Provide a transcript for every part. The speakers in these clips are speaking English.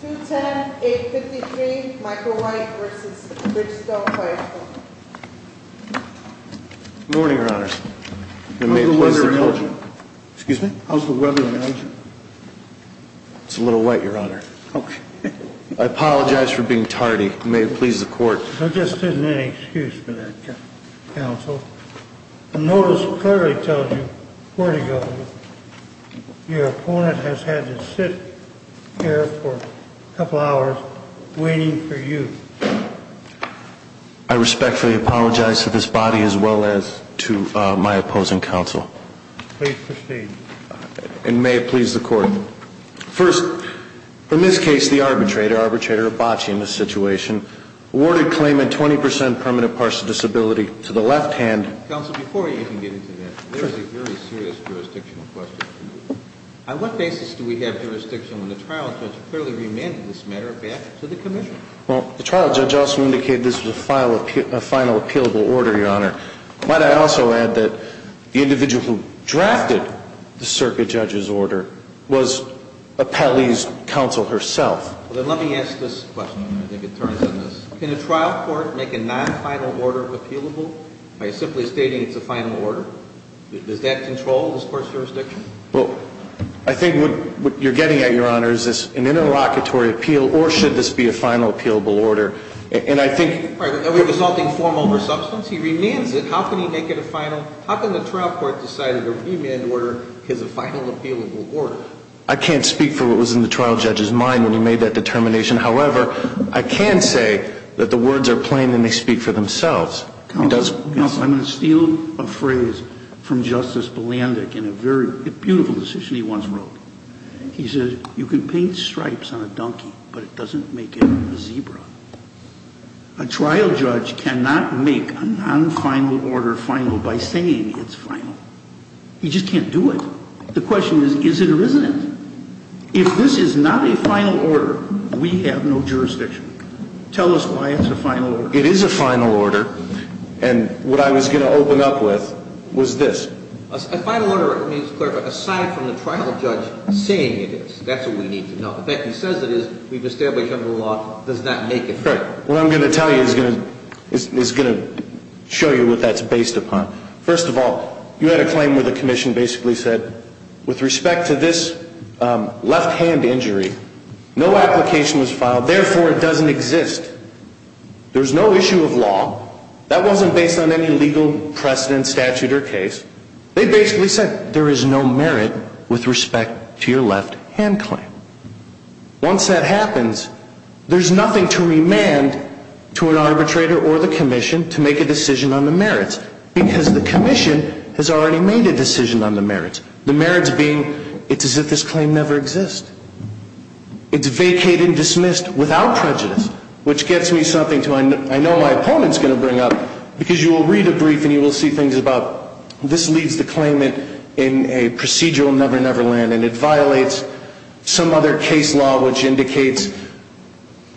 210-853 Michael White v. Bridgestone High School Good morning, Your Honor. I apologize for being tardy. May it please the Court. There just isn't any excuse for that, Counsel. The notice clearly tells you where to go. Your opponent has had to sit here for a couple hours waiting for you. I respectfully apologize to this body as well as to my opposing counsel. Please proceed. Counsel, before you even get into that, there is a very serious jurisdictional question for you. On what basis do we have jurisdiction when the trial judge clearly remanded this matter back to the Commission? Well, the trial judge also indicated this was a final appealable order, Your Honor. Might I also add that the individual who drafted the circuit judge's order was Appellee's counsel herself. Well, then let me ask this question. I think it turns in this. Can a trial court make a non-final order appealable by simply stating it's a final order? Does that control this Court's jurisdiction? Well, I think what you're getting at, Your Honor, is this an interlocutory appeal or should this be a final appealable order? Are we resulting form over substance? He remands it. How can he make it a final? How can the trial court decide that a remand order is a final appealable order? I can't speak for what was in the trial judge's mind when he made that determination. However, I can say that the words are plain and they speak for themselves. Counsel, I'm going to steal a phrase from Justice Bulandic in a very beautiful decision he once wrote. He says, you can paint stripes on a donkey, but it doesn't make it a zebra. A trial judge cannot make a non-final order final by saying it's final. He just can't do it. The question is, is it or isn't it? If this is not a final order, we have no jurisdiction. Tell us why it's a final order. It is a final order, and what I was going to open up with was this. A final order, let me just clarify, aside from the trial judge saying it is, that's what we need to know. The fact that he says it is, we've established under the law, does not make it a final order. What I'm going to tell you is going to show you what that's based upon. First of all, you had a claim where the commission basically said, with respect to this left-hand injury, no application was filed, therefore it doesn't exist. There's no issue of law. That wasn't based on any legal precedent, statute, or case. They basically said, there is no merit with respect to your left-hand claim. Once that happens, there's nothing to remand to an arbitrator or the commission to make a decision on the merits, because the commission has already made a decision on the merits. The merits being, it's as if this claim never exists. It's vacated, dismissed, without prejudice, which gets me to something I know my opponent's going to bring up, because you will read a brief and you will see things about, this leads the claimant in a procedural never-never land, and it violates some other case law which indicates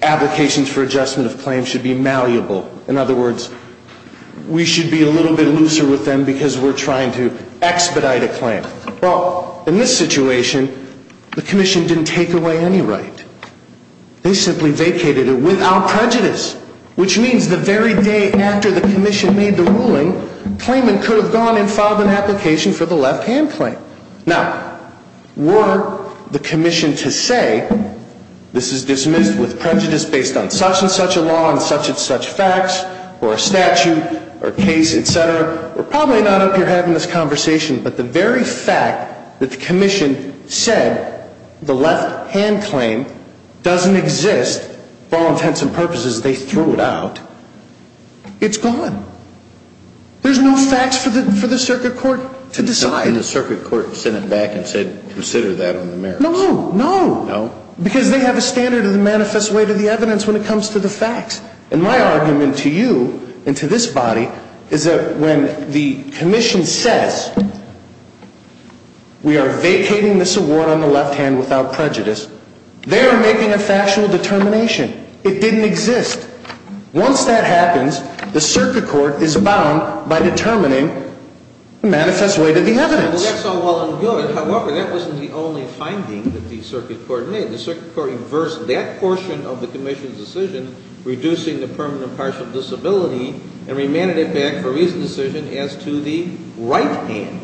applications for adjustment of claims should be malleable. In other words, we should be a little bit looser with them because we're trying to expedite a claim. Well, in this situation, the commission didn't take away any right. They simply vacated it without prejudice, which means the very day after the commission made the ruling, the claimant could have gone and filed an application for the left-hand claim. Now, were the commission to say, this is dismissed with prejudice based on such and such a law and such and such facts, or a statute, or a case, et cetera, we're probably not up here having this conversation, but the very fact that the commission said the left-hand claim doesn't exist for all intents and purposes, they threw it out, it's gone. There's no facts for the circuit court to decide. And the circuit court sent it back and said, consider that on the merits. No, no. No? Because they have a standard of the manifest way to the evidence when it comes to the facts. And my argument to you and to this body is that when the commission says, we are vacating this award on the left-hand without prejudice, they are making a factual determination. It didn't exist. Once that happens, the circuit court is bound by determining the manifest way to the evidence. Well, that's all well and good. However, that wasn't the only finding that the circuit court made. The circuit court reversed that portion of the commission's decision, reducing the permanent partial disability, and remanded it back for recent decision as to the right-hand.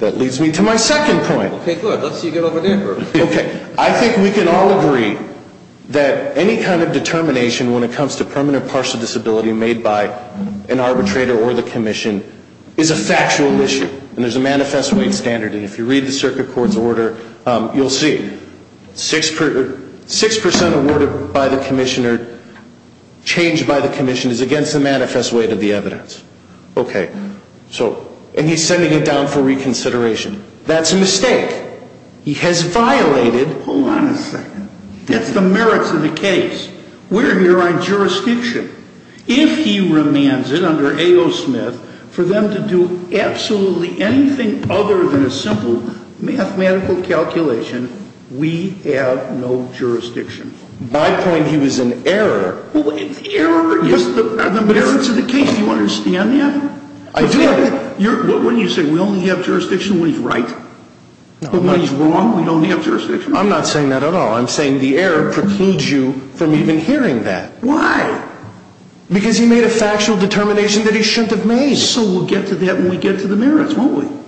That leads me to my second point. Okay, good. Let's see you get over there first. Okay. I think we can all agree that any kind of determination when it comes to permanent partial disability made by an arbitrator or the commission is a factual issue. And there's a manifest way standard. And if you read the circuit court's order, you'll see 6% awarded by the commissioner, changed by the commission is against the manifest way to the evidence. Okay. So, and he's sending it down for reconsideration. That's a mistake. He has violated. Hold on a second. That's the merits of the case. We're here on jurisdiction. If he remands it under A.O. Smith for them to do absolutely anything other than a simple mathematical calculation, we have no jurisdiction. My point, he was an error. Well, the error is the merits of the case. Do you understand that? I do. What wouldn't you say? We only have jurisdiction when he's right. No. When he's wrong, we don't have jurisdiction. I'm not saying that at all. I'm saying the error precludes you from even hearing that. Why? Because he made a factual determination that he shouldn't have made. So we'll get to that when we get to the merits, won't we?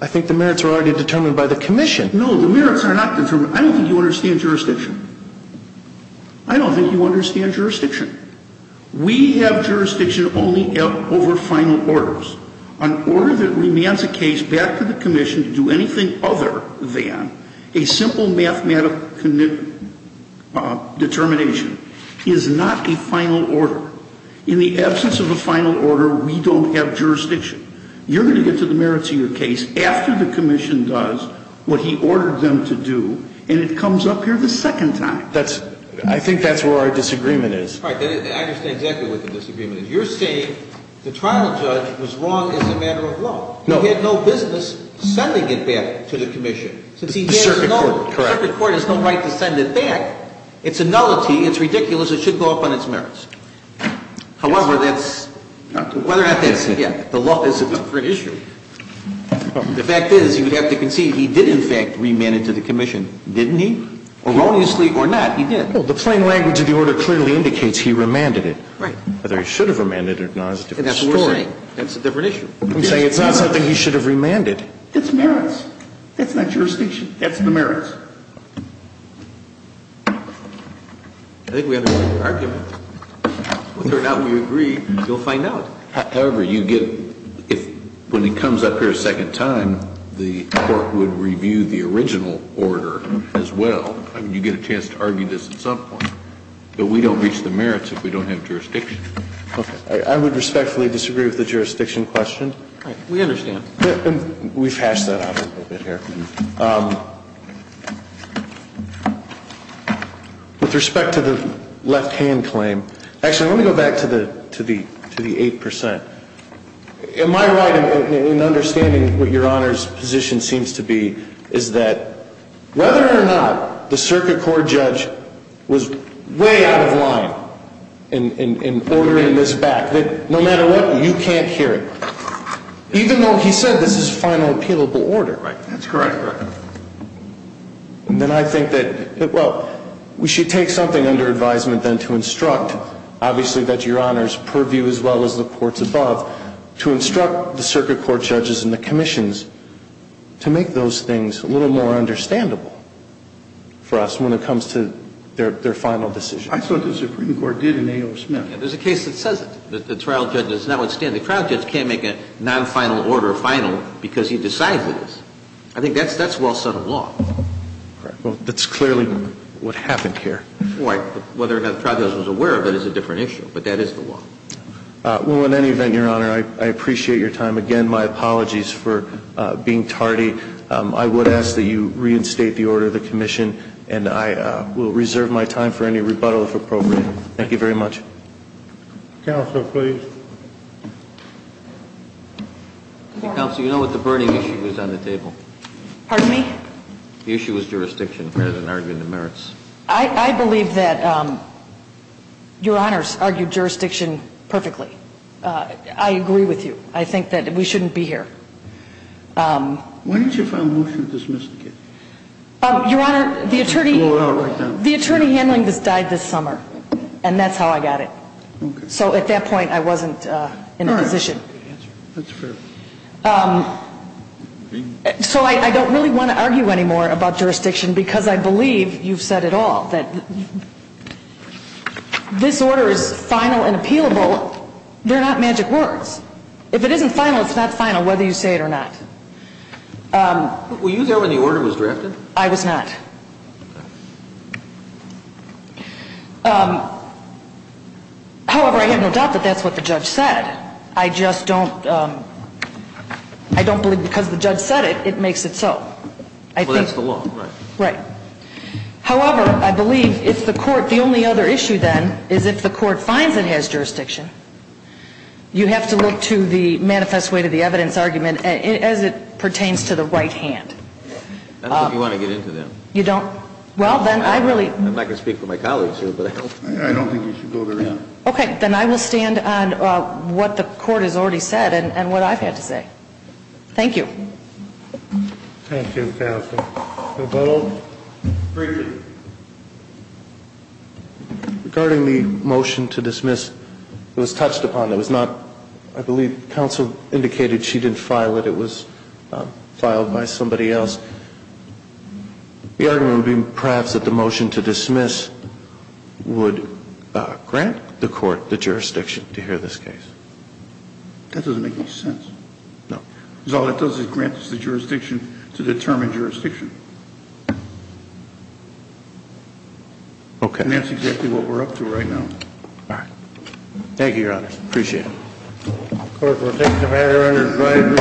I think the merits are already determined by the commission. No, the merits are not determined. I don't think you understand jurisdiction. I don't think you understand jurisdiction. We have jurisdiction only over final orders. An order that remands a case back to the commission to do anything other than a simple mathematical determination is not a final order. In the absence of a final order, we don't have jurisdiction. You're going to get to the merits of your case after the commission does what he ordered them to do, and it comes up here the second time. I think that's where our disagreement is. All right. I understand exactly what the disagreement is. You're saying the trial judge was wrong as a matter of law. No. He had no business sending it back to the commission. The circuit court. Correct. The circuit court has no right to send it back. It's a nullity. It's ridiculous. It should go up on its merits. However, that's whether or not that's the law is a different issue. The fact is you have to concede he did in fact remand it to the commission, didn't he? Erroneously or not, he did. Well, the plain language of the order clearly indicates he remanded it. Right. Whether he should have remanded it or not is a different story. That's a different issue. I'm saying it's not something he should have remanded. It's merits. That's not jurisdiction. That's the merits. I think we have an argument. Whether or not we agree, you'll find out. However, you get – when it comes up here a second time, the court would review the original order as well. I mean, you get a chance to argue this at some point. But we don't reach the merits if we don't have jurisdiction. Okay. I would respectfully disagree with the jurisdiction question. All right. We understand. We've hashed that out a little bit here. With respect to the left-hand claim – actually, let me go back to the 8%. Am I right in understanding what Your Honor's position seems to be is that whether or not the circuit court judge was way out of line in ordering this back, that no matter what, you can't hear it, even though he said this is final appealable order? Right. That's correct. And then I think that, well, we should take something under advisement then to instruct, obviously that's Your Honor's purview as well as the court's above, to instruct the circuit court judges and the commissions to make those things a little more understandable for us when it comes to their final decision. I thought the Supreme Court did in A.O. Smith. There's a case that says it, that the trial judge does not withstand. The trial judge can't make a non-final order final because he decides it is. I think that's well-settled law. All right. Well, that's clearly what happened here. Right. Whether or not the trial judge was aware of it is a different issue. But that is the law. Well, in any event, Your Honor, I appreciate your time. Again, my apologies for being tardy. I would ask that you reinstate the order of the commission. And I will reserve my time for any rebuttal, if appropriate. Thank you very much. Counsel, please. Counsel, you know what the burning issue is on the table? Pardon me? The issue is jurisdiction rather than arguing the merits. I believe that Your Honor's argued jurisdiction perfectly. I agree with you. I think that we shouldn't be here. Why didn't you file a motion to dismiss the case? Your Honor, the attorney handling this died this summer. And that's how I got it. So at that point, I wasn't in a position. That's fair. So I don't really want to argue anymore about jurisdiction because I believe you've said it all, that this order is final and appealable. They're not magic words. If it isn't final, it's not final whether you say it or not. Were you there when the order was drafted? I was not. However, I have no doubt that that's what the judge said. I just don't believe because the judge said it, it makes it so. Well, that's the law, right? Right. However, I believe if the court the only other issue then is if the court finds it has jurisdiction, you have to look to the manifest way to the evidence argument as it pertains to the right hand. I don't think you want to get into that. You don't? Well, then I really. I'm not going to speak for my colleagues here, but I hope. I don't think you should go there either. Okay. Then I will stand on what the court has already said and what I've had to say. Thank you. Thank you, counsel. Mr. McDonnell. Great. Regarding the motion to dismiss, it was touched upon. It was not, I believe counsel indicated she didn't file it. It was filed by somebody else. The argument would be perhaps that the motion to dismiss would grant the court the jurisdiction to hear this case. That doesn't make any sense. No. Well, it doesn't grant us the jurisdiction to determine jurisdiction. Okay. And that's exactly what we're up to right now. All right. Thank you, Your Honor. Appreciate it. Court is adjourned.